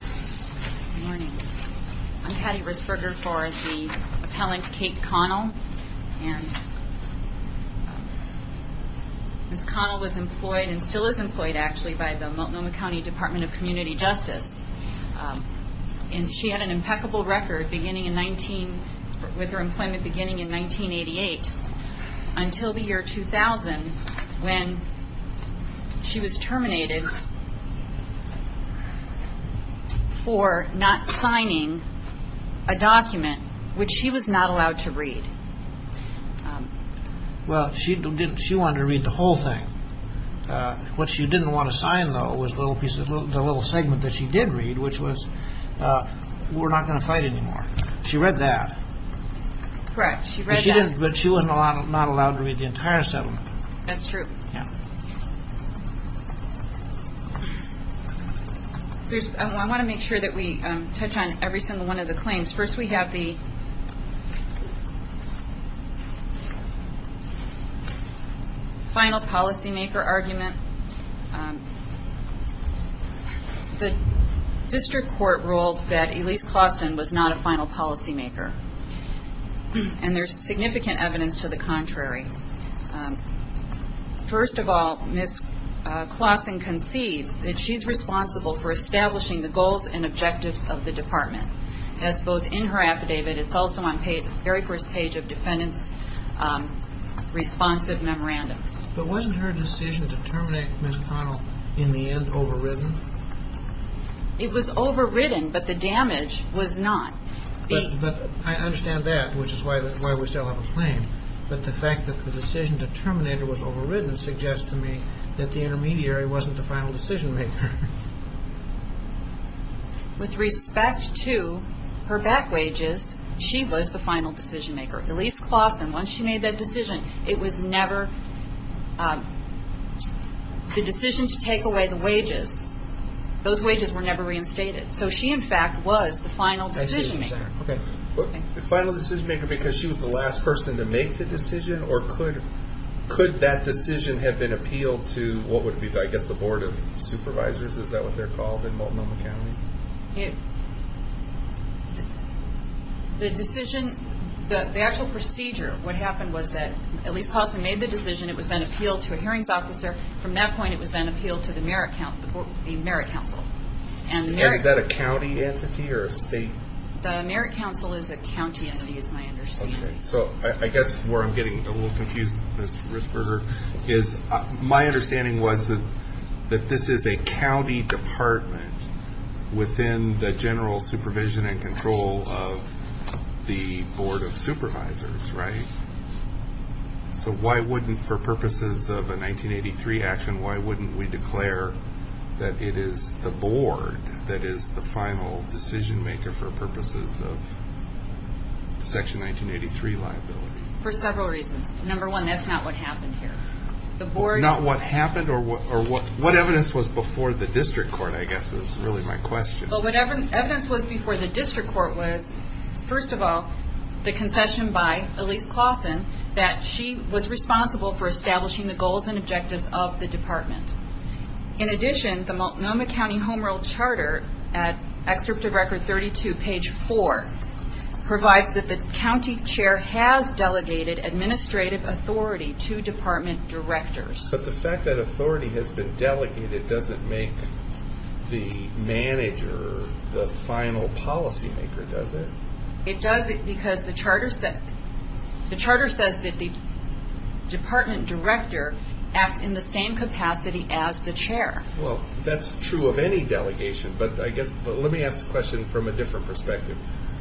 Good morning. I'm Patti Risburger for the appellant Kate Connell. And Ms. Connell was employed and still is employed actually by the Multnomah County Department of Community Justice. And she had an impeccable record beginning in 19, with her employment beginning in 1988. Until the year 2000, when she was terminated for not signing a document, which she was not allowed to read. Well, she wanted to read the whole thing. What she didn't want to sign, though, was the little segment that she did read, which was, we're not going to fight anymore. She read that. Correct. She read that. But she was not allowed to read the entire settlement. That's true. I want to make sure that we touch on every single one of the claims. First, we have the final policymaker argument. The district court ruled that Elise Claussen was not a final policymaker. And there's significant evidence to the contrary. First of all, Ms. Claussen concedes that she's responsible for establishing the goals and objectives of the department. That's both in her affidavit. It's also on the very first page of defendant's responsive memorandum. But wasn't her decision to terminate Ms. Connell, in the end, overridden? It was overridden, but the damage was not. I understand that, which is why we still have a claim. But the fact that the decision to terminate it was overridden suggests to me that the intermediary wasn't the final decisionmaker. With respect to her back wages, she was the final decisionmaker. Elise Claussen, once she made that decision, it was never the decision to take away the wages. Those wages were never reinstated. So she, in fact, was the final decisionmaker. The final decisionmaker because she was the last person to make the decision? Or could that decision have been appealed to the Board of Supervisors? Is that what they're called in Multnomah County? The actual procedure, what happened was that Elise Claussen made the decision. It was then appealed to a hearings officer. From that point, it was then appealed to the Merit Council. Is that a county entity or a state? The Merit Council is a county entity, is my understanding. I guess where I'm getting a little confused, Ms. Risberger, is my understanding was that this is a county department within the general supervision and control of the Board of Supervisors, right? So why wouldn't, for purposes of a 1983 action, why wouldn't we declare that it is the Board that is the final decisionmaker for purposes of Section 1983 liability? For several reasons. Number one, that's not what happened here. Not what happened? What evidence was before the district court, I guess, is really my question. What evidence was before the district court was, first of all, the concession by Elise Claussen that she was responsible for establishing the goals and objectives of the department. In addition, the Multnomah County Home Rule Charter, at Excerpt of Record 32, page 4, provides that the county chair has delegated administrative authority to department directors. But the fact that authority has been delegated doesn't make the manager the final policymaker, does it? It doesn't because the charter says that the department director acts in the same capacity as the chair. Well, that's true of any delegation, but let me ask the question from a different perspective.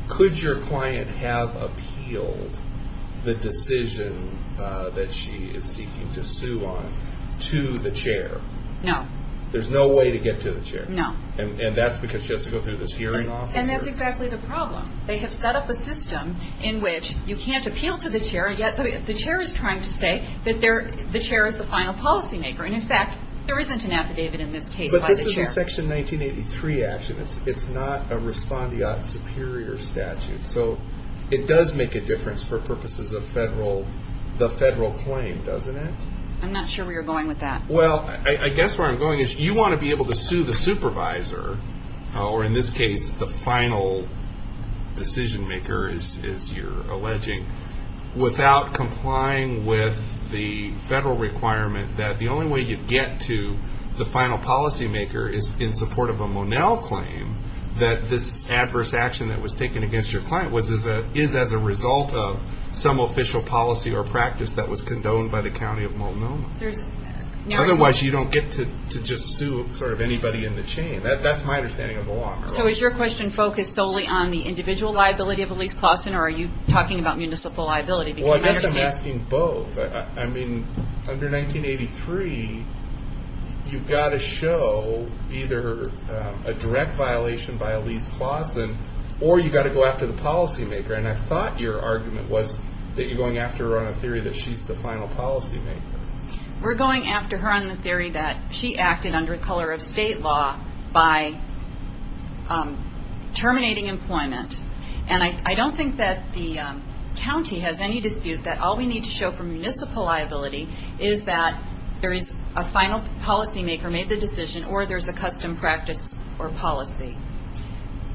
Could your client have appealed the decision that she is seeking to sue on to the chair? No. There's no way to get to the chair? No. And that's because she has to go through this hearing officer? And that's exactly the problem. They have set up a system in which you can't appeal to the chair, yet the chair is trying to say that the chair is the final policymaker. And, in fact, there isn't an affidavit in this case by the chair. But this is a Section 1983 action. It's not a respondeat superior statute. So it does make a difference for purposes of the federal claim, doesn't it? I'm not sure where you're going with that. Well, I guess where I'm going is you want to be able to sue the supervisor, or in this case the final decision maker, as you're alleging, without complying with the federal requirement that the only way you get to the final policymaker is in support of a Monell claim, that this adverse action that was taken against your client is as a result of some official policy or practice that was condoned by the County of Multnomah. Otherwise you don't get to just sue sort of anybody in the chain. That's my understanding of the law. So is your question focused solely on the individual liability of Elise Clauston, or are you talking about municipal liability? Well, I guess I'm asking both. I mean, under 1983, you've got to show either a direct violation by Elise Clauston, or you've got to go after the policymaker. And I thought your argument was that you're going after her on a theory that she's the final policymaker. We're going after her on the theory that she acted under the color of state law by terminating employment. And I don't think that the county has any dispute that all we need to show for municipal liability is that there is a final policymaker made the decision, or there's a custom practice or policy.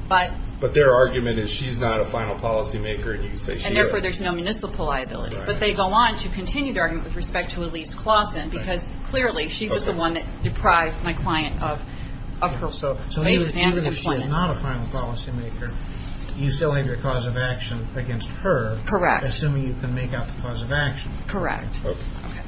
But their argument is she's not a final policymaker, and you can say she is. And therefore there's no municipal liability. But they go on to continue their argument with respect to Elise Clauston, because clearly she was the one that deprived my client of her place under the plan. So even though she's not a final policymaker, you still have your cause of action against her. Correct. Assuming you can make out the cause of action. Correct. Okay.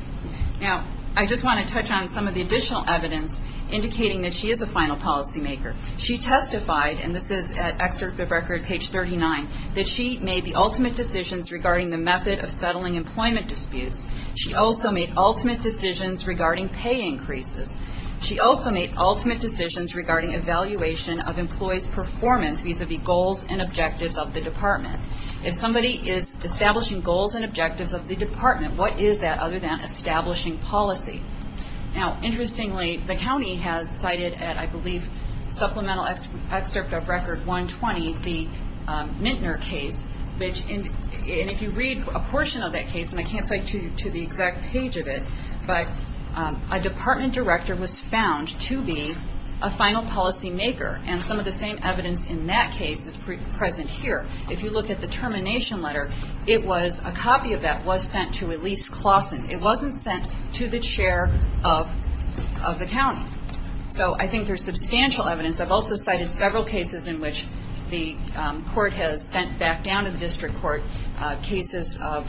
Now, I just want to touch on some of the additional evidence indicating that she is a final policymaker. She testified, and this is at Excerpt of Record, page 39, that she made the ultimate decisions regarding the method of settling employment disputes. She also made ultimate decisions regarding pay increases. She also made ultimate decisions regarding evaluation of employees' performance vis-à-vis goals and objectives of the department. If somebody is establishing goals and objectives of the department, what is that other than establishing policy? Now, interestingly, the county has cited at, I believe, Supplemental Excerpt of Record 120, the Mintner case. And if you read a portion of that case, and I can't cite to the exact page of it, but a department director was found to be a final policymaker, and some of the same evidence in that case is present here. If you look at the termination letter, it was a copy of that was sent to Elise Claussen. It wasn't sent to the chair of the county. So I think there's substantial evidence. I've also cited several cases in which the court has sent back down to the district court cases of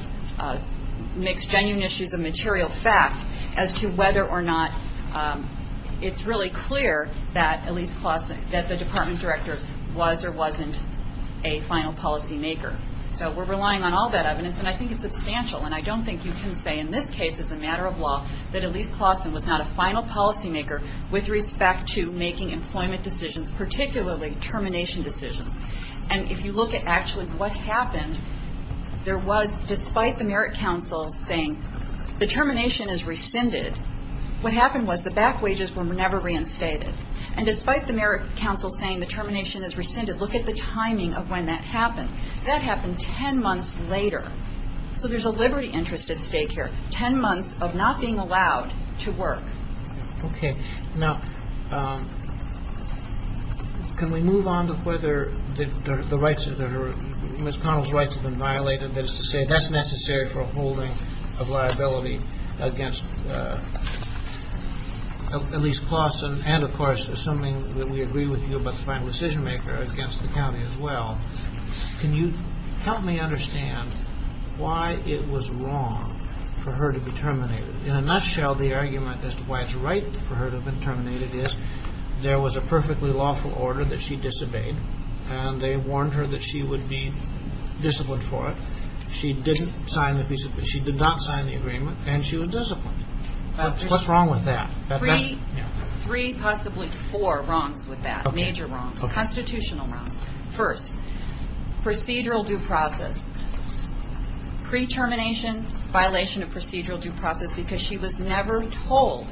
mixed genuine issues of material fact as to whether or not it's really clear that Elise Claussen, that the department director was or wasn't a final policymaker. So we're relying on all that evidence, and I think it's substantial. And I don't think you can say in this case, as a matter of law, that Elise Claussen was not a final policymaker with respect to making employment decisions, particularly termination decisions. And if you look at actually what happened, there was, despite the merit counsel saying the termination is rescinded, what happened was the back wages were never reinstated. And despite the merit counsel saying the termination is rescinded, look at the timing of when that happened. That happened 10 months later. So there's a liberty interest at stake here, 10 months of not being allowed to work. Okay. Now, can we move on to whether Ms. Connell's rights have been violated? That is to say, that's necessary for a holding of liability against Elise Claussen, and of course, assuming that we agree with you about the final decisionmaker, against the county as well. Can you help me understand why it was wrong for her to be terminated? In a nutshell, the argument as to why it's right for her to have been terminated is, there was a perfectly lawful order that she disobeyed, and they warned her that she would be disciplined for it. She did not sign the agreement, and she was disciplined. What's wrong with that? Three, possibly four wrongs with that, major wrongs, constitutional wrongs. First, procedural due process. Pre-termination, violation of procedural due process, because she was never told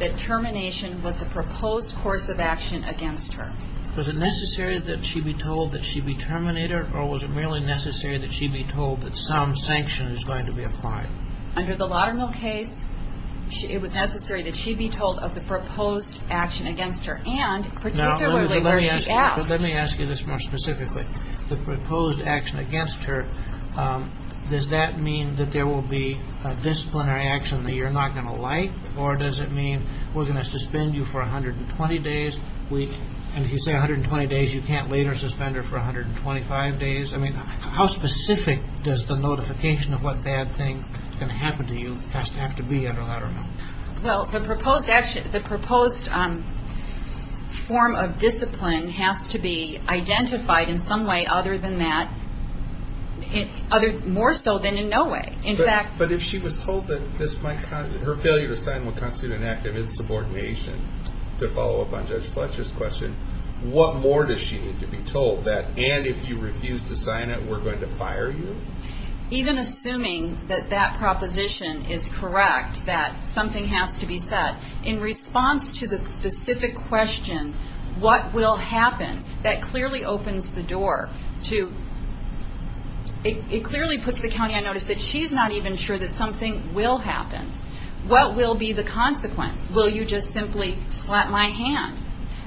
that termination was a proposed course of action against her. Was it necessary that she be told that she be terminated, or was it merely necessary that she be told that some sanction is going to be applied? Under the Laudermill case, it was necessary that she be told of the proposed action against her, and particularly where she asked. Let me ask you this more specifically. The proposed action against her, does that mean that there will be a disciplinary action that you're not going to like, or does it mean we're going to suspend you for 120 days, and if you say 120 days, you can't later suspend her for 125 days? I mean, how specific does the notification of what bad thing can happen to you have to be under Laudermill? Well, the proposed form of discipline has to be identified in some way other than that, more so than in no way. But if she was told that her failure to sign will constitute an act of insubordination, to follow up on Judge Fletcher's question, what more does she need to be told that, and if you refuse to sign it, we're going to fire you? Even assuming that that proposition is correct, that something has to be said, in response to the specific question, what will happen, that clearly opens the door to, it clearly puts the county on notice that she's not even sure that something will happen. What will be the consequence? Will you just simply slap my hand?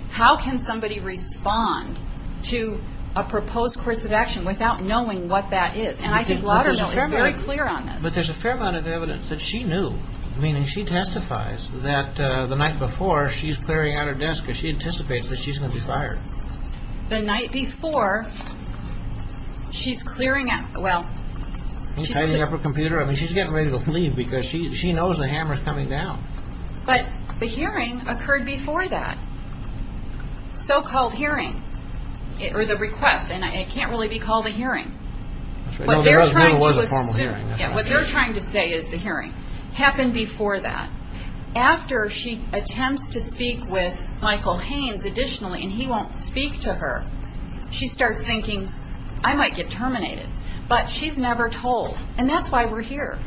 How can somebody respond to a proposed course of action without knowing what that is? And I think Laudermill is very clear on this. But there's a fair amount of evidence that she knew. Meaning she testifies that the night before, she's clearing out her desk, because she anticipates that she's going to be fired. The night before, she's clearing out, well... She's tidying up her computer. I mean, she's getting ready to leave because she knows the hammer's coming down. But the hearing occurred before that. So-called hearing, or the request, and it can't really be called a hearing. What they're trying to say is the hearing happened before that. After she attempts to speak with Michael Haynes additionally, and he won't speak to her, she starts thinking, I might get terminated. But she's never told. And that's why we're here.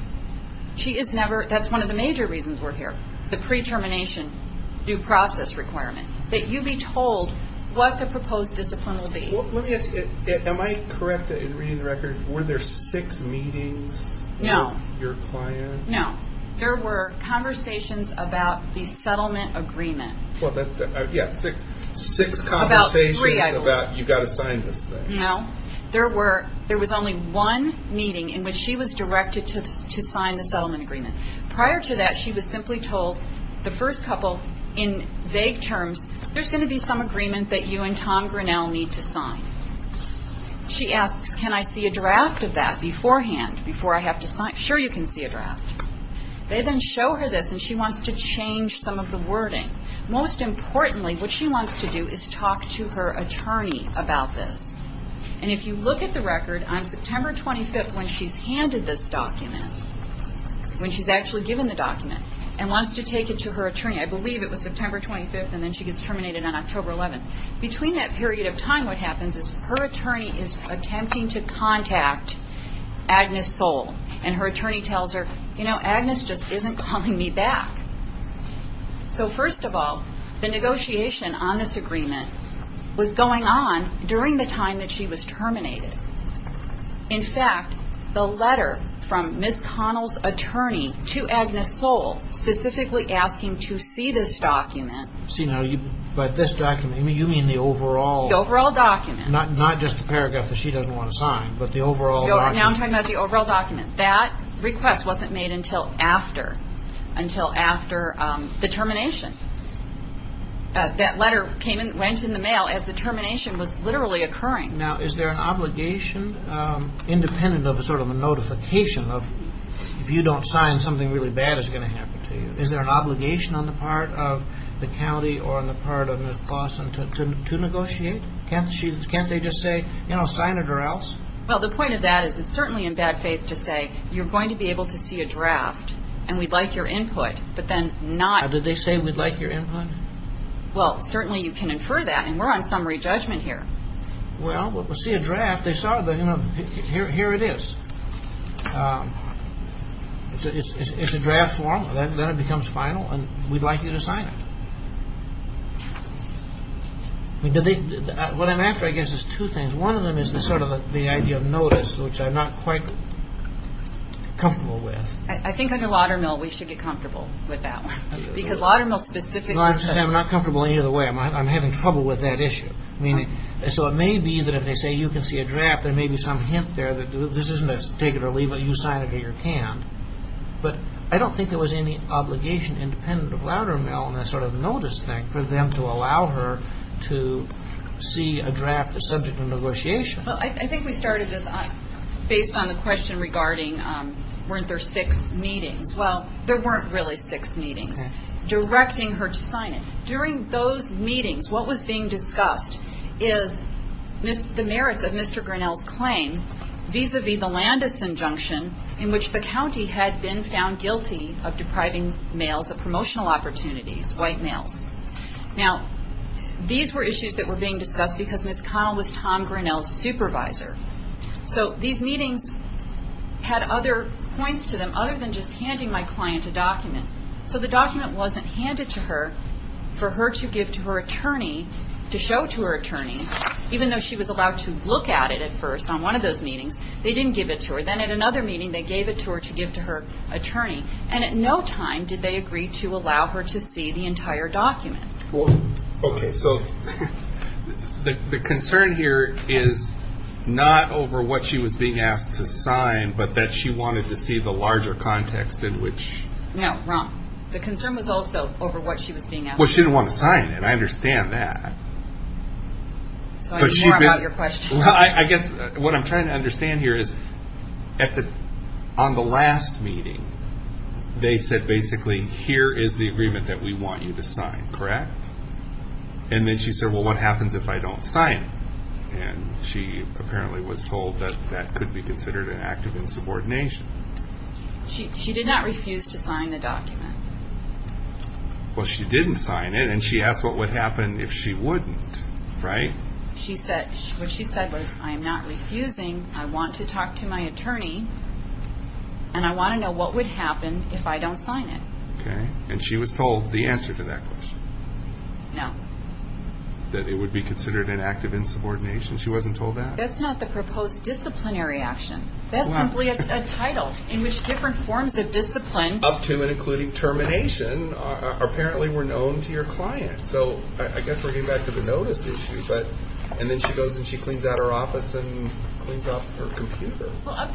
That's one of the major reasons we're here, the pre-termination due process requirement, that you be told what the proposed discipline will be. Let me ask you, am I correct in reading the record? Were there six meetings with your client? No. There were conversations about the settlement agreement. Well, yeah, six conversations about you've got to sign this thing. No. There was only one meeting in which she was directed to sign the settlement agreement. Prior to that, she was simply told, the first couple, in vague terms, there's going to be some agreement that you and Tom Grinnell need to sign. She asks, can I see a draft of that beforehand, before I have to sign? Sure, you can see a draft. They then show her this, and she wants to change some of the wording. Most importantly, what she wants to do is talk to her attorney about this. And if you look at the record, on September 25th, when she's handed this document, when she's actually given the document, and wants to take it to her attorney, I believe it was September 25th, and then she gets terminated on October 11th. Between that period of time, what happens is her attorney is attempting to contact Agnes Soule, and her attorney tells her, you know, Agnes just isn't calling me back. So, first of all, the negotiation on this agreement was going on during the time that she was terminated. In fact, the letter from Ms. Connell's attorney to Agnes Soule, specifically asking to see this document. But this document, you mean the overall? The overall document. Not just the paragraph that she doesn't want to sign, but the overall document. No, now I'm talking about the overall document. That request wasn't made until after the termination. That letter went in the mail as the termination was literally occurring. Now, is there an obligation, independent of a sort of a notification of, if you don't sign, something really bad is going to happen to you. Is there an obligation on the part of the county or on the part of Ms. Blossom to negotiate? Can't they just say, you know, sign it or else? Well, the point of that is it's certainly in bad faith to say, you're going to be able to see a draft, and we'd like your input, but then not. Now, did they say, we'd like your input? Well, certainly you can infer that, and we're on summary judgment here. Well, we'll see a draft. Here it is. It's a draft form. Then it becomes final, and we'd like you to sign it. What I'm after, I guess, is two things. One of them is sort of the idea of notice, which I'm not quite comfortable with. I think under Laudermill we should get comfortable with that one. Because Laudermill specifically said- No, I understand. I'm not comfortable either way. I'm having trouble with that issue. So it may be that if they say you can see a draft, there may be some hint there. This isn't a take it or leave it. You sign it or you can't. But I don't think there was any obligation independent of Laudermill in that sort of notice thing for them to allow her to see a draft that's subject to negotiation. Well, I think we started this based on the question regarding weren't there six meetings. Well, there weren't really six meetings. Directing her to sign it. During those meetings, what was being discussed is the merits of Mr. Grinnell's claim vis-a-vis the Landis injunction in which the county had been found guilty of depriving males of promotional opportunities, white males. Now, these were issues that were being discussed because Ms. Connell was Tom Grinnell's supervisor. So these meetings had other points to them other than just handing my client a document. So the document wasn't handed to her for her to give to her attorney, to show to her attorney, even though she was allowed to look at it at first on one of those meetings. They didn't give it to her. Then at another meeting, they gave it to her to give to her attorney. And at no time did they agree to allow her to see the entire document. Okay, so the concern here is not over what she was being asked to sign, but that she wanted to see the larger context in which... No, wrong. The concern was also over what she was being asked to sign. Well, she didn't want to sign it. I understand that. So I need more about your question. I guess what I'm trying to understand here is on the last meeting, they said basically, here is the agreement that we want you to sign, correct? And then she said, well, what happens if I don't sign it? And she apparently was told that that could be considered an act of insubordination. She did not refuse to sign the document. Well, she didn't sign it, and she asked what would happen if she wouldn't, right? What she said was, I am not refusing. I want to talk to my attorney. And I want to know what would happen if I don't sign it. Okay, and she was told the answer to that question? No. That it would be considered an act of insubordination. She wasn't told that? That's not the proposed disciplinary action. That's simply a title in which different forms of discipline... Up to and including termination apparently were known to your client. So I guess we're getting back to the notice issue. And then she goes and she cleans out her office and cleans up her computer. I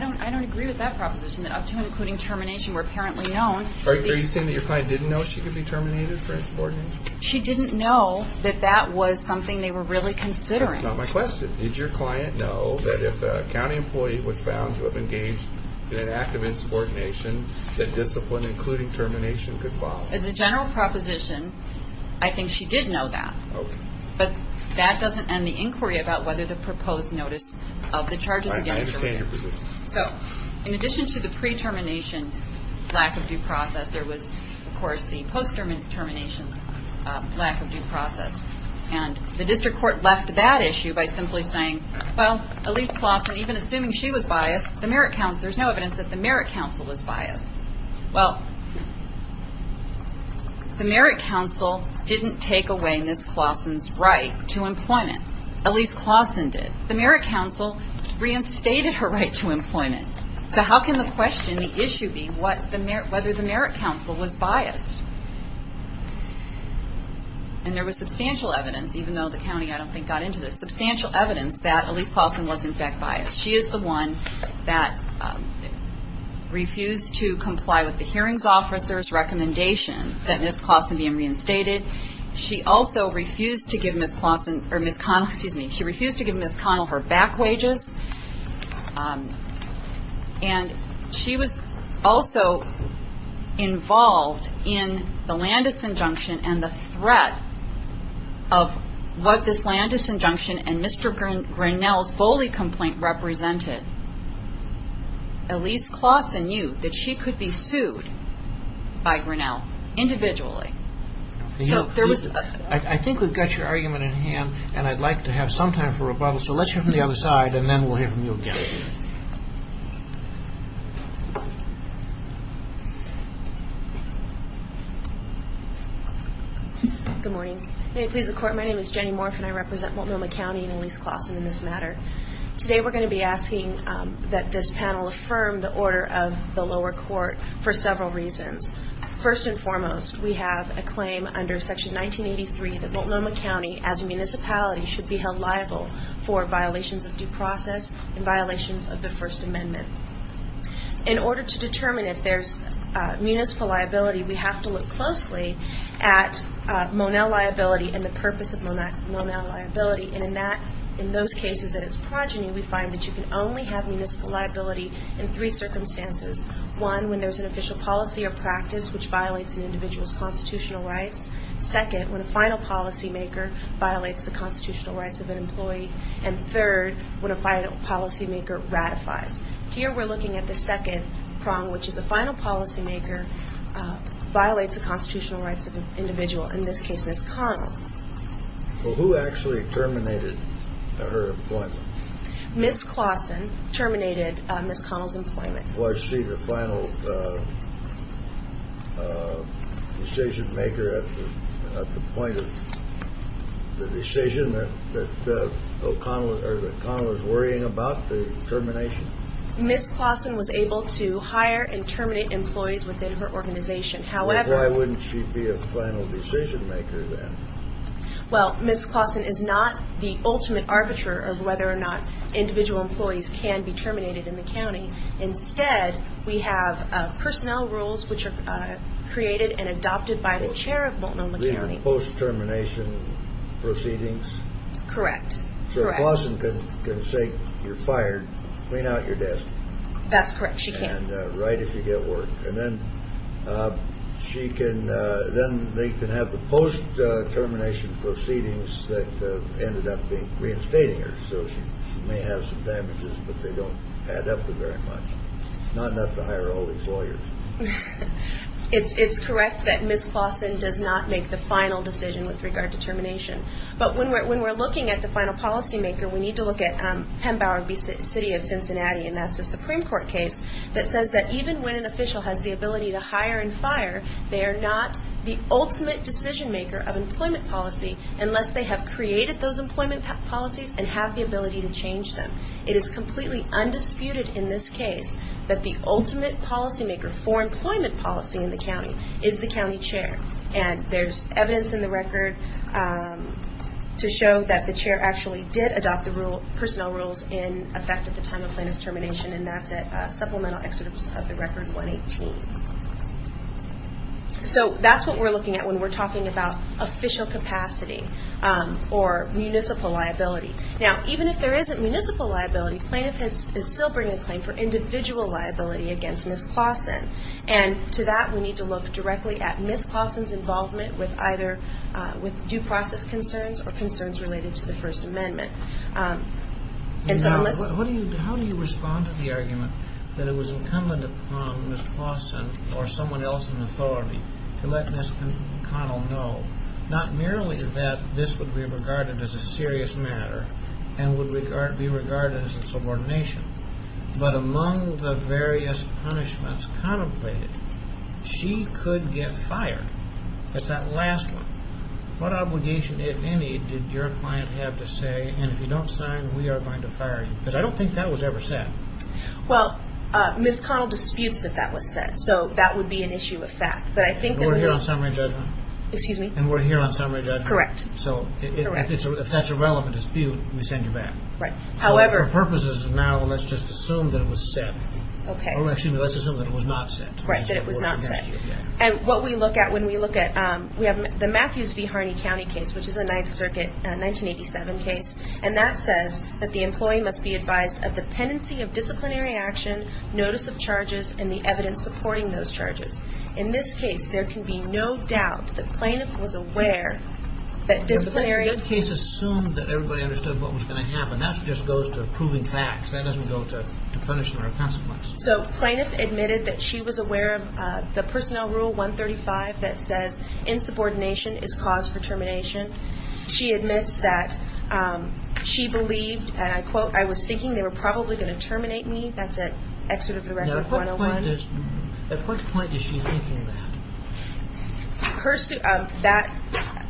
don't agree with that proposition, that up to and including termination were apparently known. Are you saying that your client didn't know she could be terminated for insubordination? She didn't know that that was something they were really considering. That's not my question. Did your client know that if a county employee was found to have engaged in an act of insubordination, that discipline including termination could follow? As a general proposition, I think she did know that. Okay. But that doesn't end the inquiry about whether the proposed notice of the charges against her... I understand your position. So in addition to the pre-termination lack of due process, there was, of course, the post-termination lack of due process. And the district court left that issue by simply saying, well, Elyse Claussen, even assuming she was biased, there's no evidence that the merit counsel was biased. Well, the merit counsel didn't take away Ms. Claussen's right to employment. Elyse Claussen did. The merit counsel reinstated her right to employment. So how can the question, the issue be whether the merit counsel was biased? And there was substantial evidence, even though the county, I don't think, got into this, substantial evidence that Elyse Claussen was, in fact, biased. She is the one that refused to comply with the hearings officer's recommendation that Ms. Claussen be reinstated. She also refused to give Ms. Connell her back wages. And she was also involved in the Landis injunction and the threat of what this Landis injunction and Mr. Grinnell's bully complaint represented. Elyse Claussen knew that she could be sued by Grinnell individually. I think we've got your argument in hand, and I'd like to have some time for rebuttal. So let's hear from the other side, and then we'll hear from you again. Good morning. May it please the Court, my name is Jenny Morf, and I represent Multnomah County and Elyse Claussen in this matter. Today we're going to be asking that this panel affirm the order of the lower court for several reasons. First and foremost, we have a claim under Section 1983 that Multnomah County, as a municipality, should be held liable for violations of due process and violations of the First Amendment. In order to determine if there's municipal liability, we have to look closely at Monell liability and the purpose of Monell liability, and in those cases that it's progeny, we find that you can only have municipal liability in three circumstances. One, when there's an official policy or practice which violates an individual's constitutional rights. Second, when a final policymaker violates the constitutional rights of an employee. And third, when a final policymaker ratifies. Here we're looking at the second prong, which is a final policymaker violates the constitutional rights of an individual, in this case, Ms. Connell. Well, who actually terminated her employment? Ms. Claussen terminated Ms. Connell's employment. Was she the final decisionmaker at the point of the decision that Connell was worrying about, the termination? Ms. Claussen was able to hire and terminate employees within her organization. Why wouldn't she be a final decisionmaker then? Well, Ms. Claussen is not the ultimate arbiter of whether or not individual employees can be terminated in the county. Instead, we have personnel rules which are created and adopted by the chair of Multnomah County. These are post-termination proceedings? Correct. So Claussen can say, you're fired, clean out your desk. That's correct. She can. And write if you get work. And then they can have the post-termination proceedings that ended up reinstating her. So she may have some damages, but they don't add up to very much. Not enough to hire all these lawyers. It's correct that Ms. Claussen does not make the final decision with regard to termination. But when we're looking at the final policymaker, we need to look at Hembower v. City of Cincinnati, and that's a Supreme Court case that says that even when an official has the ability to hire and fire, they are not the ultimate decisionmaker of employment policy unless they have created those employment policies and have the ability to change them. It is completely undisputed in this case that the ultimate policymaker for employment policy in the county is the county chair. And there's evidence in the record to show that the chair actually did adopt the personnel rules in effect at the time of Clannis' termination, and that's at supplemental exodus of the record 118. So that's what we're looking at when we're talking about official capacity or municipal liability. Now, even if there isn't municipal liability, plaintiff is still bringing a claim for individual liability against Ms. Claussen. And to that, we need to look directly at Ms. Claussen's involvement with either due process concerns or concerns related to the First Amendment. How do you respond to the argument that it was incumbent upon Ms. Claussen or someone else in authority to let Ms. McConnell know not merely that this would be regarded as a serious matter and would be regarded as a subordination, but among the various punishments contemplated, she could get fired as that last one? What obligation, if any, did your client have to say, and if you don't sign, we are going to fire you? Because I don't think that was ever said. Well, Ms. Connell disputes that that was said. So that would be an issue of fact. But I think that we're here on summary judgment. Excuse me? And we're here on summary judgment. Correct. So if that's a relevant dispute, we send you back. However. For purposes of now, let's just assume that it was set. Okay. Or excuse me, let's assume that it was not set. Right, that it was not set. And what we look at when we look at, we have the Matthews v. Harney County case, which is a Ninth Circuit 1987 case, and that says that the employee must be advised of dependency of disciplinary action, notice of charges, and the evidence supporting those charges. In this case, there can be no doubt that plaintiff was aware that disciplinary... That case assumed that everybody understood what was going to happen. That just goes to proving facts. That doesn't go to punishment or consequence. So plaintiff admitted that she was aware of the Personnel Rule 135 that says, Insubordination is cause for termination. She admits that she believed, and I quote, I was thinking they were probably going to terminate me. That's at Excerpt of the Record 101. Now, at what point is she thinking that?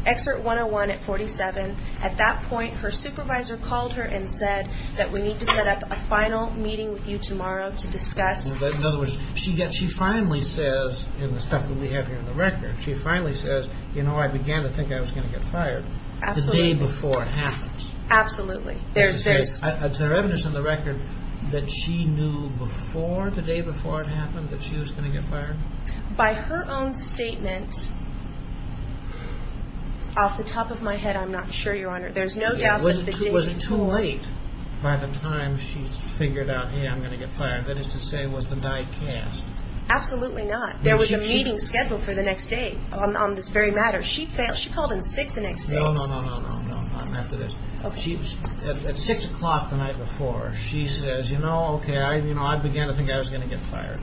Excerpt 101 at 47. At that point, her supervisor called her and said that we need to set up a final meeting with you tomorrow to discuss... In other words, she finally says, in the stuff that we have here in the record, she finally says, you know, I began to think I was going to get fired. Absolutely. The day before it happens. Absolutely. Is there evidence in the record that she knew before, the day before it happened, that she was going to get fired? By her own statement, off the top of my head, I'm not sure, Your Honor. There's no doubt that she didn't... It wasn't too late by the time she figured out, hey, I'm going to get fired. That is to say, was the night cast. Absolutely not. There was a meeting scheduled for the next day on this very matter. She failed. She called in sick the next day. No, no, no, no, no, no. I'm after this. At 6 o'clock the night before, she says, you know, okay, I began to think I was going to get fired.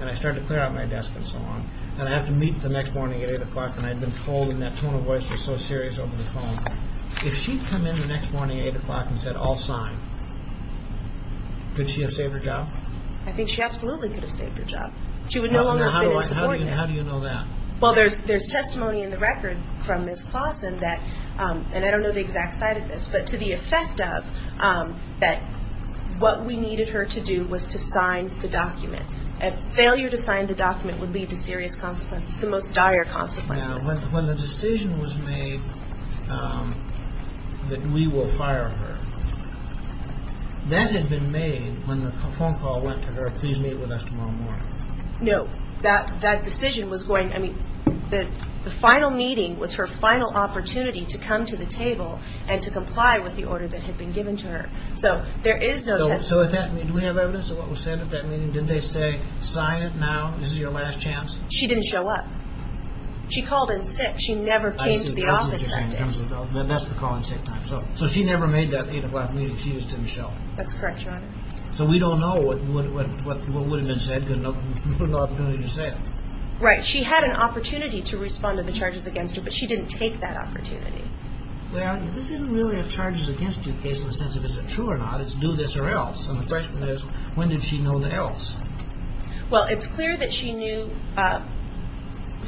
And I started to clear out my desk and so on. And I have to meet the next morning at 8 o'clock. And I'd been told, and that tone of voice was so serious over the phone, if she'd come in the next morning at 8 o'clock and said, I'll sign, could she have saved her job? I think she absolutely could have saved her job. She would no longer have been in support. How do you know that? Well, there's testimony in the record from Ms. Clausen that, and I don't know the exact site of this, but to the effect of that what we needed her to do was to sign the document. And failure to sign the document would lead to serious consequences, the most dire consequences. Now, when the decision was made that we will fire her, that had been made when the phone call went to her, please meet with us tomorrow morning. No. That decision was going, I mean, the final meeting was her final opportunity to come to the table and to comply with the order that had been given to her. So there is no testimony. So with that, do we have evidence of what was said at that meeting? Did they say, sign it now, this is your last chance? She didn't show up. She called in sick. She never came to the office that day. I see. That's what you're saying. That's the call in sick time. So she never made that 8 o'clock meeting. She just didn't show up. That's correct, Your Honor. So we don't know what would have been said because there was no opportunity to say it. Right. She had an opportunity to respond to the charges against her, but she didn't take that opportunity. Well, this isn't really a charges against you case in the sense of is it true or not. It's do this or else. And the question is, when did she know the else? Well, it's clear that she knew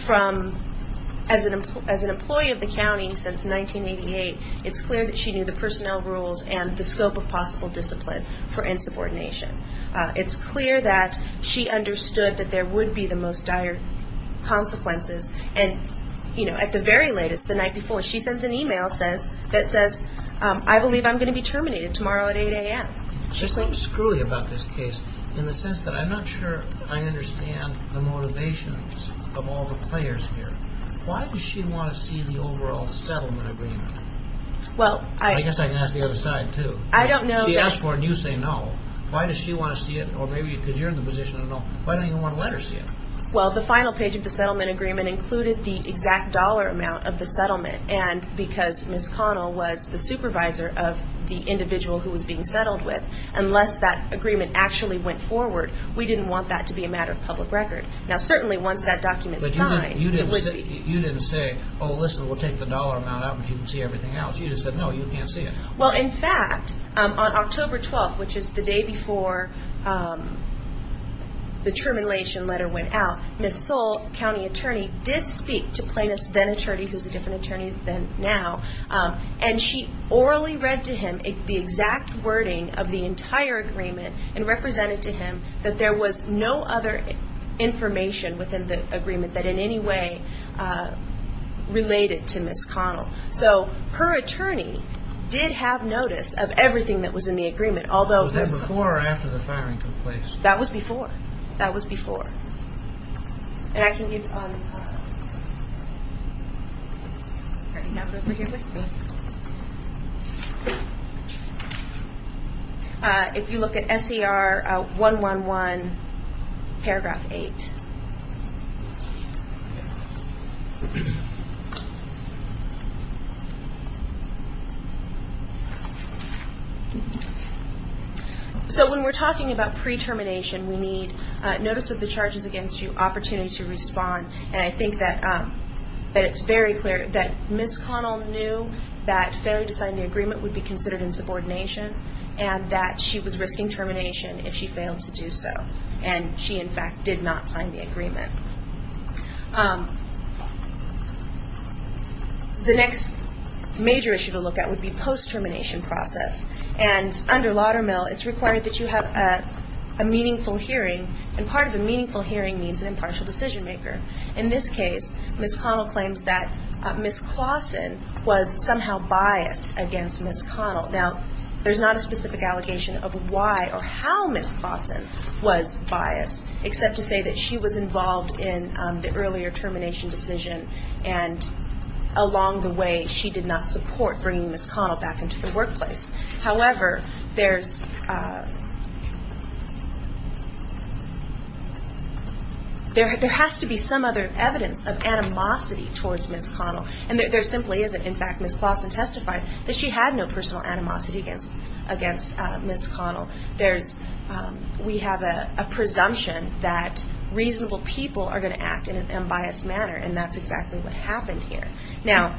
from as an employee of the county since 1988, it's clear that she knew the personnel rules and the scope of possible discipline for insubordination. It's clear that she understood that there would be the most dire consequences. And, you know, at the very latest, the night before, she sends an e-mail that says, I believe I'm going to be terminated tomorrow at 8 a.m. There's something screwy about this case in the sense that I'm not sure I understand the motivations of all the players here. Why does she want to see the overall settlement agreement? I guess I can ask the other side, too. She asked for it and you say no. Why does she want to see it? Or maybe because you're in the position of no. Why don't you want to let her see it? Well, the final page of the settlement agreement included the exact dollar amount of the settlement. And because Ms. Connell was the supervisor of the individual who was being settled with, unless that agreement actually went forward, we didn't want that to be a matter of public record. Now, certainly once that document is signed, it would be. But you didn't say, oh, listen, we'll take the dollar amount out, but you can see everything else. You just said no, you can't see it. Well, in fact, on October 12th, which is the day before the termination letter went out, Ms. Soule, the county attorney, did speak to plaintiff's then attorney, who's a different attorney now, and she orally read to him the exact wording of the entire agreement and represented to him that there was no other information within the agreement that in any way related to Ms. Connell. So her attorney did have notice of everything that was in the agreement. Was that before or after the firing took place? That was before. That was before. If you look at S.E.R. 111, paragraph 8. So when we're talking about pre-termination, we need notice of the charges against you, opportunity to respond. And I think that it's very clear that Ms. Connell knew that failure to sign the agreement would be considered in subordination and that she was risking termination if she failed to do so. And she, in fact, did not sign the agreement. The next major issue to look at would be post-termination process. And under Laudermill, it's required that you have a meaningful hearing, and part of a meaningful hearing means an impartial decision maker. In this case, Ms. Connell claims that Ms. Claussen was somehow biased against Ms. Connell. Now, there's not a specific allegation of why or how Ms. Claussen was biased, except to say that she was involved in the earlier termination decision and along the way she did not support bringing Ms. Connell back into the workplace. However, there has to be some other evidence of animosity towards Ms. Connell. And there simply isn't. In fact, Ms. Claussen testified that she had no personal animosity against Ms. Connell. We have a presumption that reasonable people are going to act in an unbiased manner, and that's exactly what happened here. Now,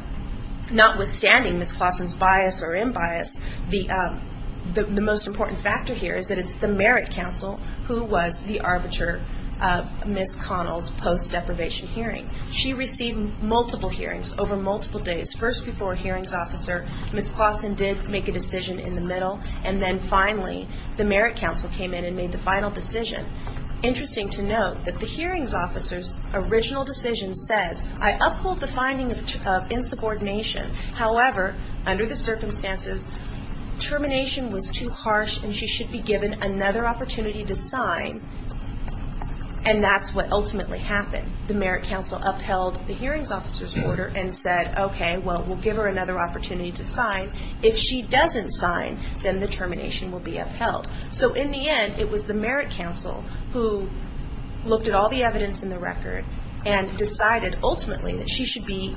notwithstanding Ms. Claussen's bias or unbiased, the most important factor here is that it's the merit counsel who was the arbiter of Ms. Connell's post-deprivation hearing. She received multiple hearings over multiple days. First, before a hearings officer, Ms. Claussen did make a decision in the middle, and then finally the merit counsel came in and made the final decision. Interesting to note that the hearings officer's original decision says, I uphold the finding of insubordination. However, under the circumstances, termination was too harsh and she should be given another opportunity to sign, and that's what ultimately happened. The merit counsel upheld the hearings officer's order and said, okay, well, we'll give her another opportunity to sign. If she doesn't sign, then the termination will be upheld. So in the end, it was the merit counsel who looked at all the evidence in the record and decided ultimately that she should be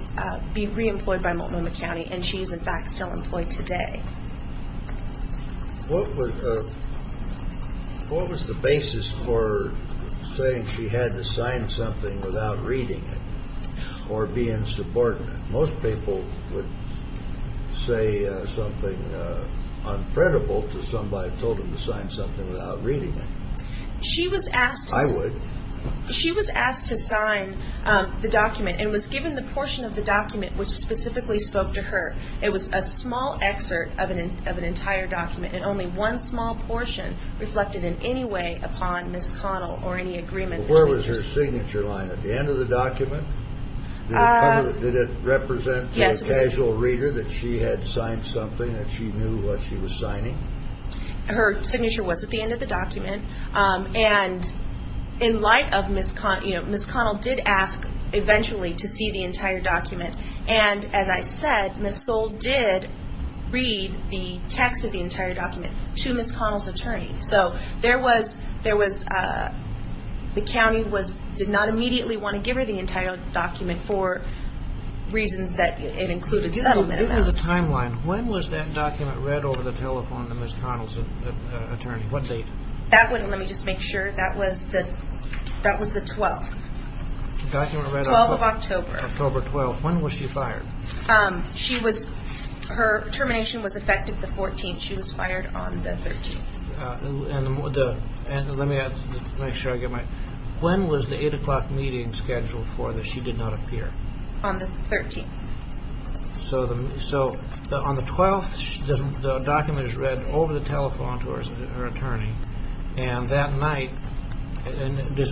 reemployed by Multnomah County, and she is, in fact, still employed today. What was the basis for saying she had to sign something without reading it or being subordinate? Most people would say something unfriendable to somebody and told them to sign something without reading it. I would. She was asked to sign the document and was given the portion of the document which specifically spoke to her. It was a small excerpt of an entire document and only one small portion reflected in any way upon Ms. Connell or any agreement. Where was her signature line? At the end of the document? Did it represent to the casual reader that she had signed something, that she knew what she was signing? Her signature was at the end of the document, and in light of Ms. Connell did ask eventually to see the entire document, and as I said, Ms. Soule did read the text of the entire document to Ms. Connell's attorney. So the county did not immediately want to give her the entire document for reasons that it included settlement amounts. Give me the timeline. When was that document read over the telephone to Ms. Connell's attorney? What date? Let me just make sure. That was the 12th. 12th of October. October 12th. When was she fired? Her termination was effective the 14th. She was fired on the 13th. Let me make sure I get my... When was the 8 o'clock meeting scheduled for that she did not appear? On the 13th. So on the 12th, the document is read over the telephone to her attorney, and that night,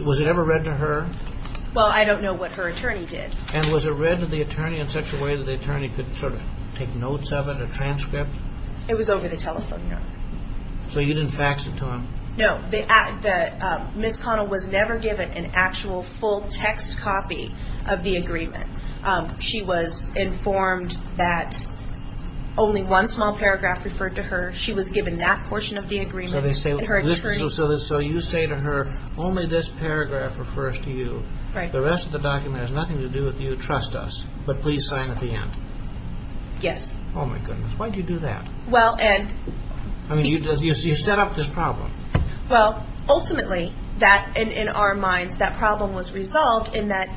was it ever read to her? Well, I don't know what her attorney did. And was it read to the attorney in such a way that the attorney could sort of take notes of it, a transcript? It was over the telephone. So you didn't fax it to him? No. Ms. Connell was never given an actual full text copy of the agreement. She was informed that only one small paragraph referred to her. She was given that portion of the agreement. So you say to her, only this paragraph refers to you. The rest of the document has nothing to do with you. Trust us. But please sign at the end. Yes. Oh, my goodness. Why did you do that? You set up this problem. Well, ultimately, in our minds, that problem was resolved in that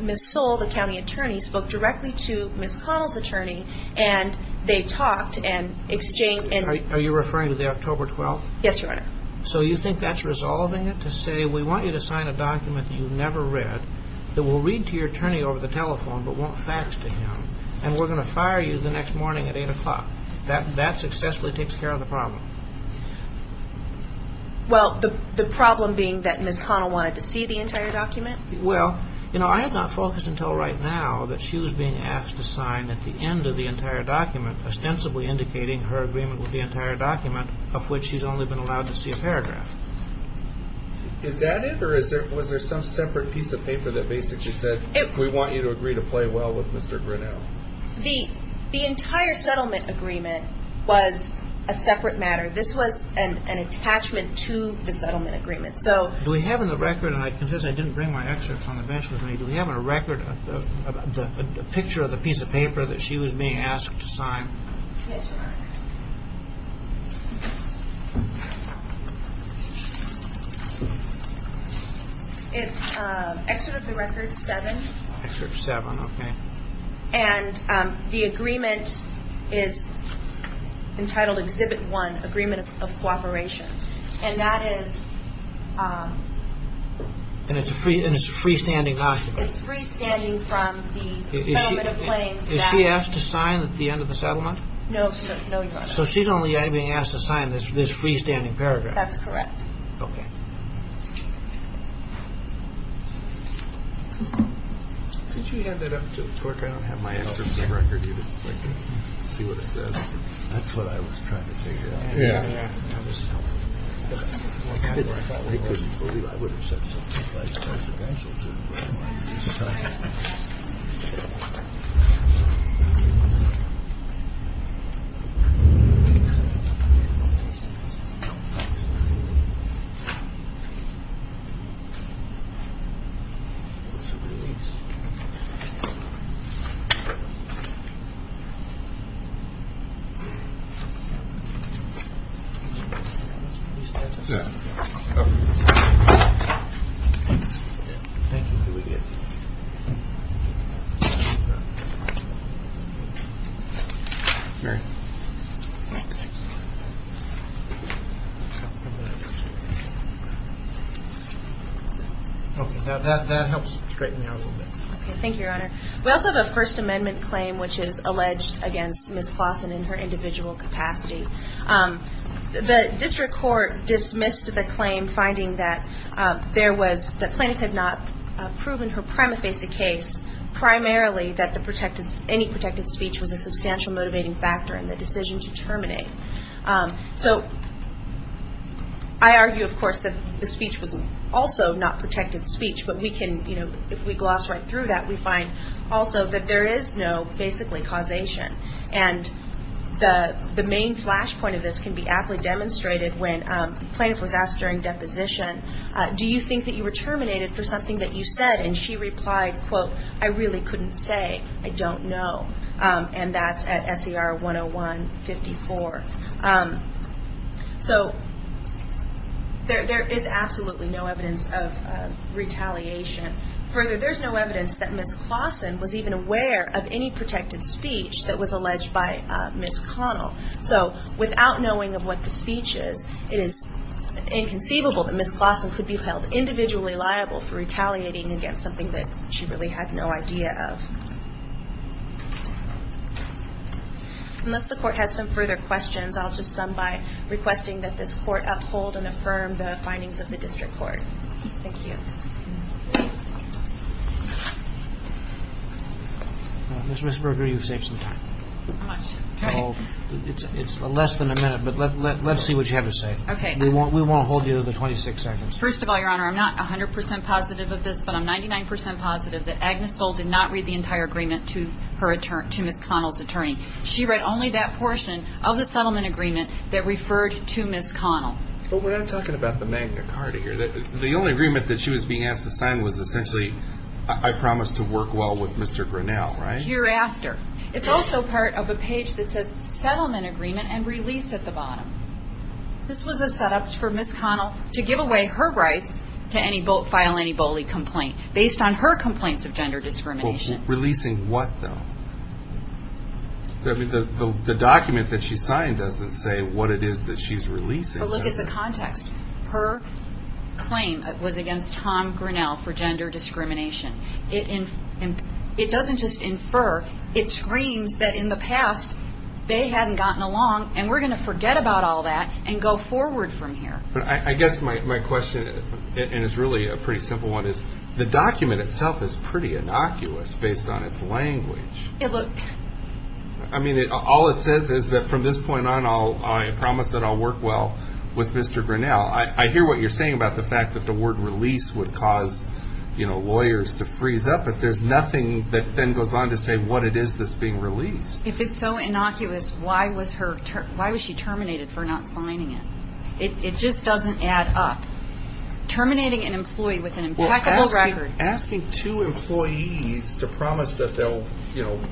Ms. Soule, the county attorney, spoke directly to Ms. Connell's attorney, and they talked and exchanged. Are you referring to the October 12th? Yes, Your Honor. So you think that's resolving it to say, we want you to sign a document that you've never read that will read to your attorney over the telephone but won't fax to him, and we're going to fire you the next morning at 8 o'clock? That successfully takes care of the problem. Well, the problem being that Ms. Connell wanted to see the entire document? Well, you know, I had not focused until right now that she was being asked to sign at the end of the entire document, ostensibly indicating her agreement with the entire document, of which she's only been allowed to see a paragraph. Is that it, or was there some separate piece of paper that basically said, we want you to agree to play well with Mr. Grinnell? The entire settlement agreement was a separate matter. This was an attachment to the settlement agreement. Do we have in the record, and I confess I didn't bring my excerpts on the bench with me, do we have in the record a picture of the piece of paper that she was being asked to sign? Yes, Your Honor. It's Excerpt of the Record 7. Excerpt 7, okay. And the agreement is entitled Exhibit 1, Agreement of Cooperation. And that is... And it's a freestanding document. It's freestanding from the settlement claims that... Is she asked to sign at the end of the settlement? No, Your Honor. So she's only being asked to sign this freestanding paragraph. That's correct. Okay. Could you hand that up to the clerk? I don't have my excerpts in the record. That's what I was trying to figure out. Yeah. That was helpful. I would have said something like consequential to it. Thank you, Your Honor. Thank you, Your Honor. Thank you, Your Honor. Thank you, Your Honor. Thank you, Your Honor. Thank you, Your Honor. Okay. Now, that helps straighten me out a little bit. Okay. Thank you, Your Honor. We also have a First Amendment claim which is alleged against Ms. Clausen in her individual capacity. The district court dismissed the claim finding that there was... primarily that any protected speech was a substantial motivating factor in the decision to terminate. So I argue, of course, that the speech was also not protected speech. But we can, you know, if we gloss right through that, we find also that there is no basically causation. And the main flashpoint of this can be aptly demonstrated when the plaintiff was asked during deposition, do you think that you were terminated for something that you said? And she replied, quote, I really couldn't say. I don't know. And that's at SER 101-54. So there is absolutely no evidence of retaliation. Further, there's no evidence that Ms. Clausen was even aware of any protected speech that was alleged by Ms. Connell. So without knowing of what the speech is, it is inconceivable that Ms. Clausen could be held individually liable for retaliating against something that she really had no idea of. Unless the court has some further questions, I'll just sum by requesting that this court uphold and affirm the findings of the district court. Thank you. Ms. Risberger, you've saved some time. How much time? It's less than a minute, but let's see what you have to say. Okay. We want to hold you to the 26 seconds. First of all, Your Honor, I'm not 100 percent positive of this, but I'm 99 percent positive that Agnes Soule did not read the entire agreement to Ms. Connell's attorney. She read only that portion of the settlement agreement that referred to Ms. Connell. But we're not talking about the Magna Carta here. The only agreement that she was being asked to sign was essentially I promise to work well with Mr. Grinnell, right? Hereafter. It's also part of a page that says settlement agreement and release at the bottom. This was a setup for Ms. Connell to give away her rights to file any bully complaint based on her complaints of gender discrimination. Releasing what, though? The document that she signed doesn't say what it is that she's releasing. But look at the context. Her claim was against Tom Grinnell for gender discrimination. It doesn't just infer. It screams that in the past they hadn't gotten along, and we're going to forget about all that and go forward from here. But I guess my question, and it's really a pretty simple one, is the document itself is pretty innocuous based on its language. I mean, all it says is that from this point on, I promise that I'll work well with Mr. Grinnell. I hear what you're saying about the fact that the word release would cause lawyers to freeze up, but there's nothing that then goes on to say what it is that's being released. If it's so innocuous, why was she terminated for not signing it? It just doesn't add up. Terminating an employee with an impeccable record. Asking two employees to promise that they'll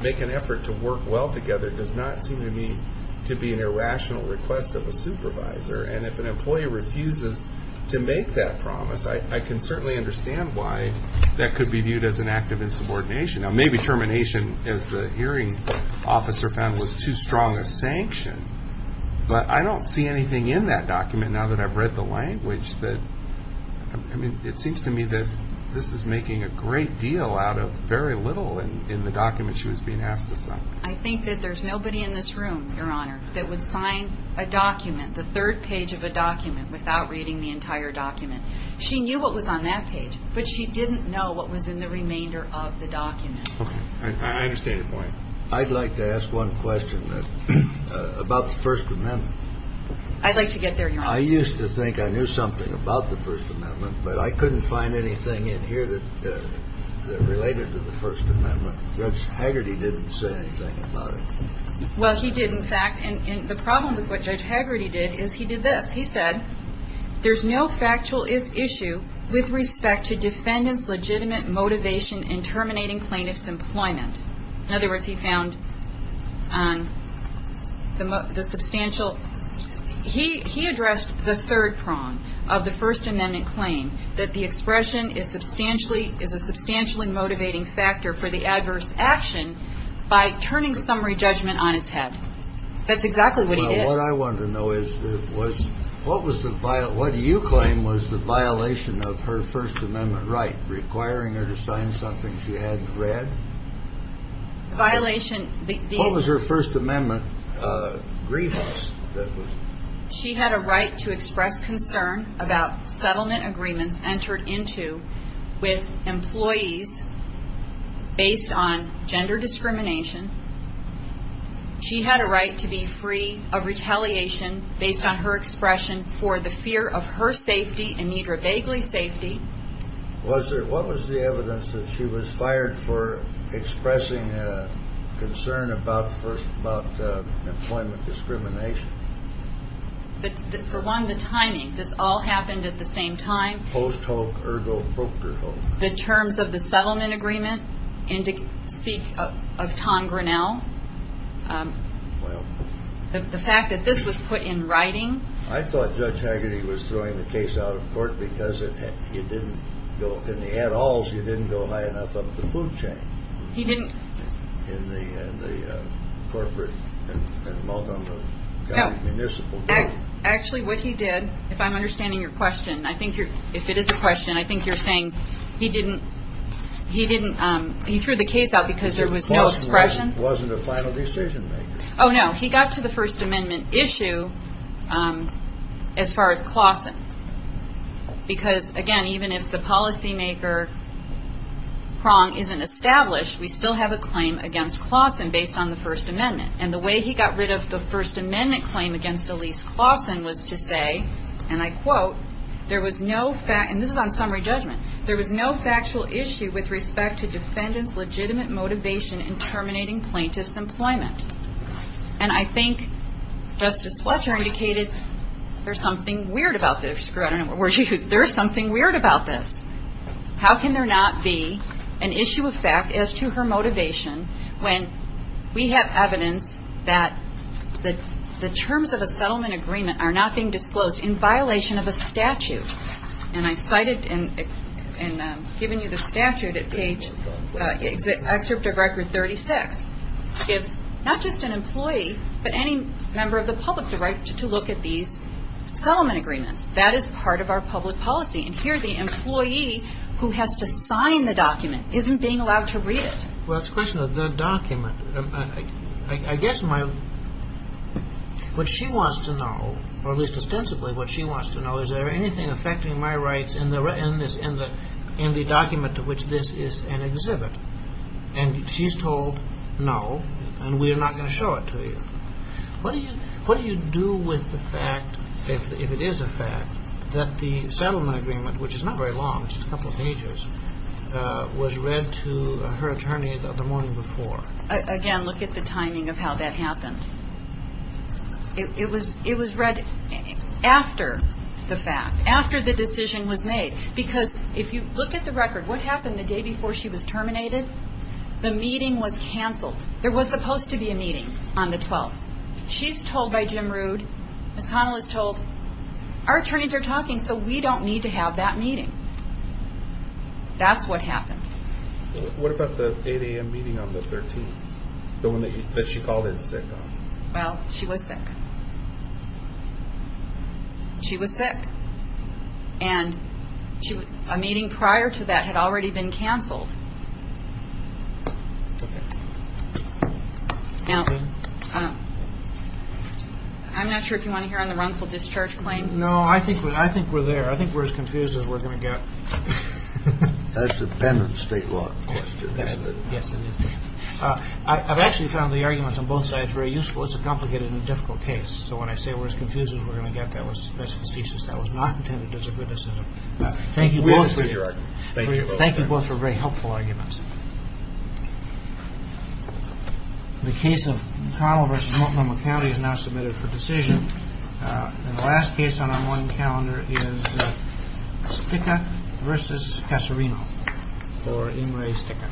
make an effort to work well together does not seem to me to be an irrational request of a supervisor. And if an employee refuses to make that promise, I can certainly understand why that could be viewed as an act of insubordination. Now, maybe termination, as the hearing officer found, was too strong a sanction, but I don't see anything in that document now that I've read the language that, I mean, it seems to me that this is making a great deal out of very little in the document she was being asked to sign. I think that there's nobody in this room, Your Honor, that would sign a document, the third page of a document, without reading the entire document. She knew what was on that page, but she didn't know what was in the remainder of the document. I understand your point. I'd like to ask one question about the First Amendment. I'd like to get there, Your Honor. I used to think I knew something about the First Amendment, but I couldn't find anything in here that related to the First Amendment. Judge Hagerty didn't say anything about it. Well, he did, in fact, and the problem with what Judge Hagerty did is he did this. He said, There's no factual issue with respect to defendant's legitimate motivation in terminating plaintiff's employment. In other words, he found the substantial – he addressed the third prong of the First Amendment claim, that the expression is a substantially motivating factor for the adverse action by turning summary judgment on its head. That's exactly what he did. Well, what I want to know is what was the – what you claim was the violation of her First Amendment right, requiring her to sign something she hadn't read? Violation – What was her First Amendment grievance that was – She had a right to express concern about settlement agreements entered into with employees based on gender discrimination. She had a right to be free of retaliation based on her expression for the fear of her safety and Nedra Begley's safety. Was there – what was the evidence that she was fired for expressing concern about employment discrimination? For one, the timing. This all happened at the same time. Post Hoke, ergo broker Hoke. The terms of the settlement agreement, and to speak of Tom Grinnell, the fact that this was put in writing. I thought Judge Hagerty was throwing the case out of court because it – you didn't go – in the add-alls, you didn't go high enough up the food chain. He didn't – In the corporate and multiple county municipal. Actually, what he did, if I'm understanding your question, I think you're – if it is a question, I think you're saying he didn't – he didn't – he threw the case out because there was no expression? It wasn't a final decision maker. Oh, no. He got to the First Amendment issue as far as Claussen. Because, again, even if the policymaker prong isn't established, we still have a claim against Claussen based on the First Amendment. And the way he got rid of the First Amendment claim against Elise Claussen was to say, and I quote, there was no – and this is on summary judgment. There was no factual issue with respect to defendant's legitimate motivation in terminating plaintiff's employment. And I think Justice Fletcher indicated there's something weird about this. I don't know what word she used. There's something weird about this. How can there not be an issue of fact as to her motivation when we have evidence that the terms of a settlement agreement are not being disclosed in violation of a statute? And I cited in giving you the statute at page – Excerpt of Record 36 gives not just an employee but any member of the public the right to look at these settlement agreements. That is part of our public policy. And here the employee who has to sign the document isn't being allowed to read it. Well, it's a question of the document. I guess my – what she wants to know, or at least extensively what she wants to know, is there anything affecting my rights in the document to which this is an exhibit? And she's told no, and we are not going to show it to you. What do you do with the fact, if it is a fact, that the settlement agreement, which is not very long, just a couple of pages, was read to her attorney the morning before? Again, look at the timing of how that happened. It was read after the fact, after the decision was made. Because if you look at the record, what happened the day before she was terminated? The meeting was canceled. There was supposed to be a meeting on the 12th. She's told by Jim Rood, Ms. Connell is told, our attorneys are talking, so we don't need to have that meeting. That's what happened. What about the 8 a.m. meeting on the 13th, the one that she called in sick on? Well, she was sick. She was sick. And a meeting prior to that had already been canceled. Okay. Now, I'm not sure if you want to hear on the wrongful discharge claim. No, I think we're there. I think we're as confused as we're going to get. That's a penitent state law question, isn't it? Yes, it is. I've actually found the arguments on both sides very useful. It's a complicated and difficult case. So when I say we're as confused as we're going to get, that's facetious. That was not intended as a criticism. Thank you both for very helpful arguments. The case of Connell v. Multnomah County is now submitted for decision. And the last case on our morning calendar is Sticca v. Casarino for Ingray-Sticca.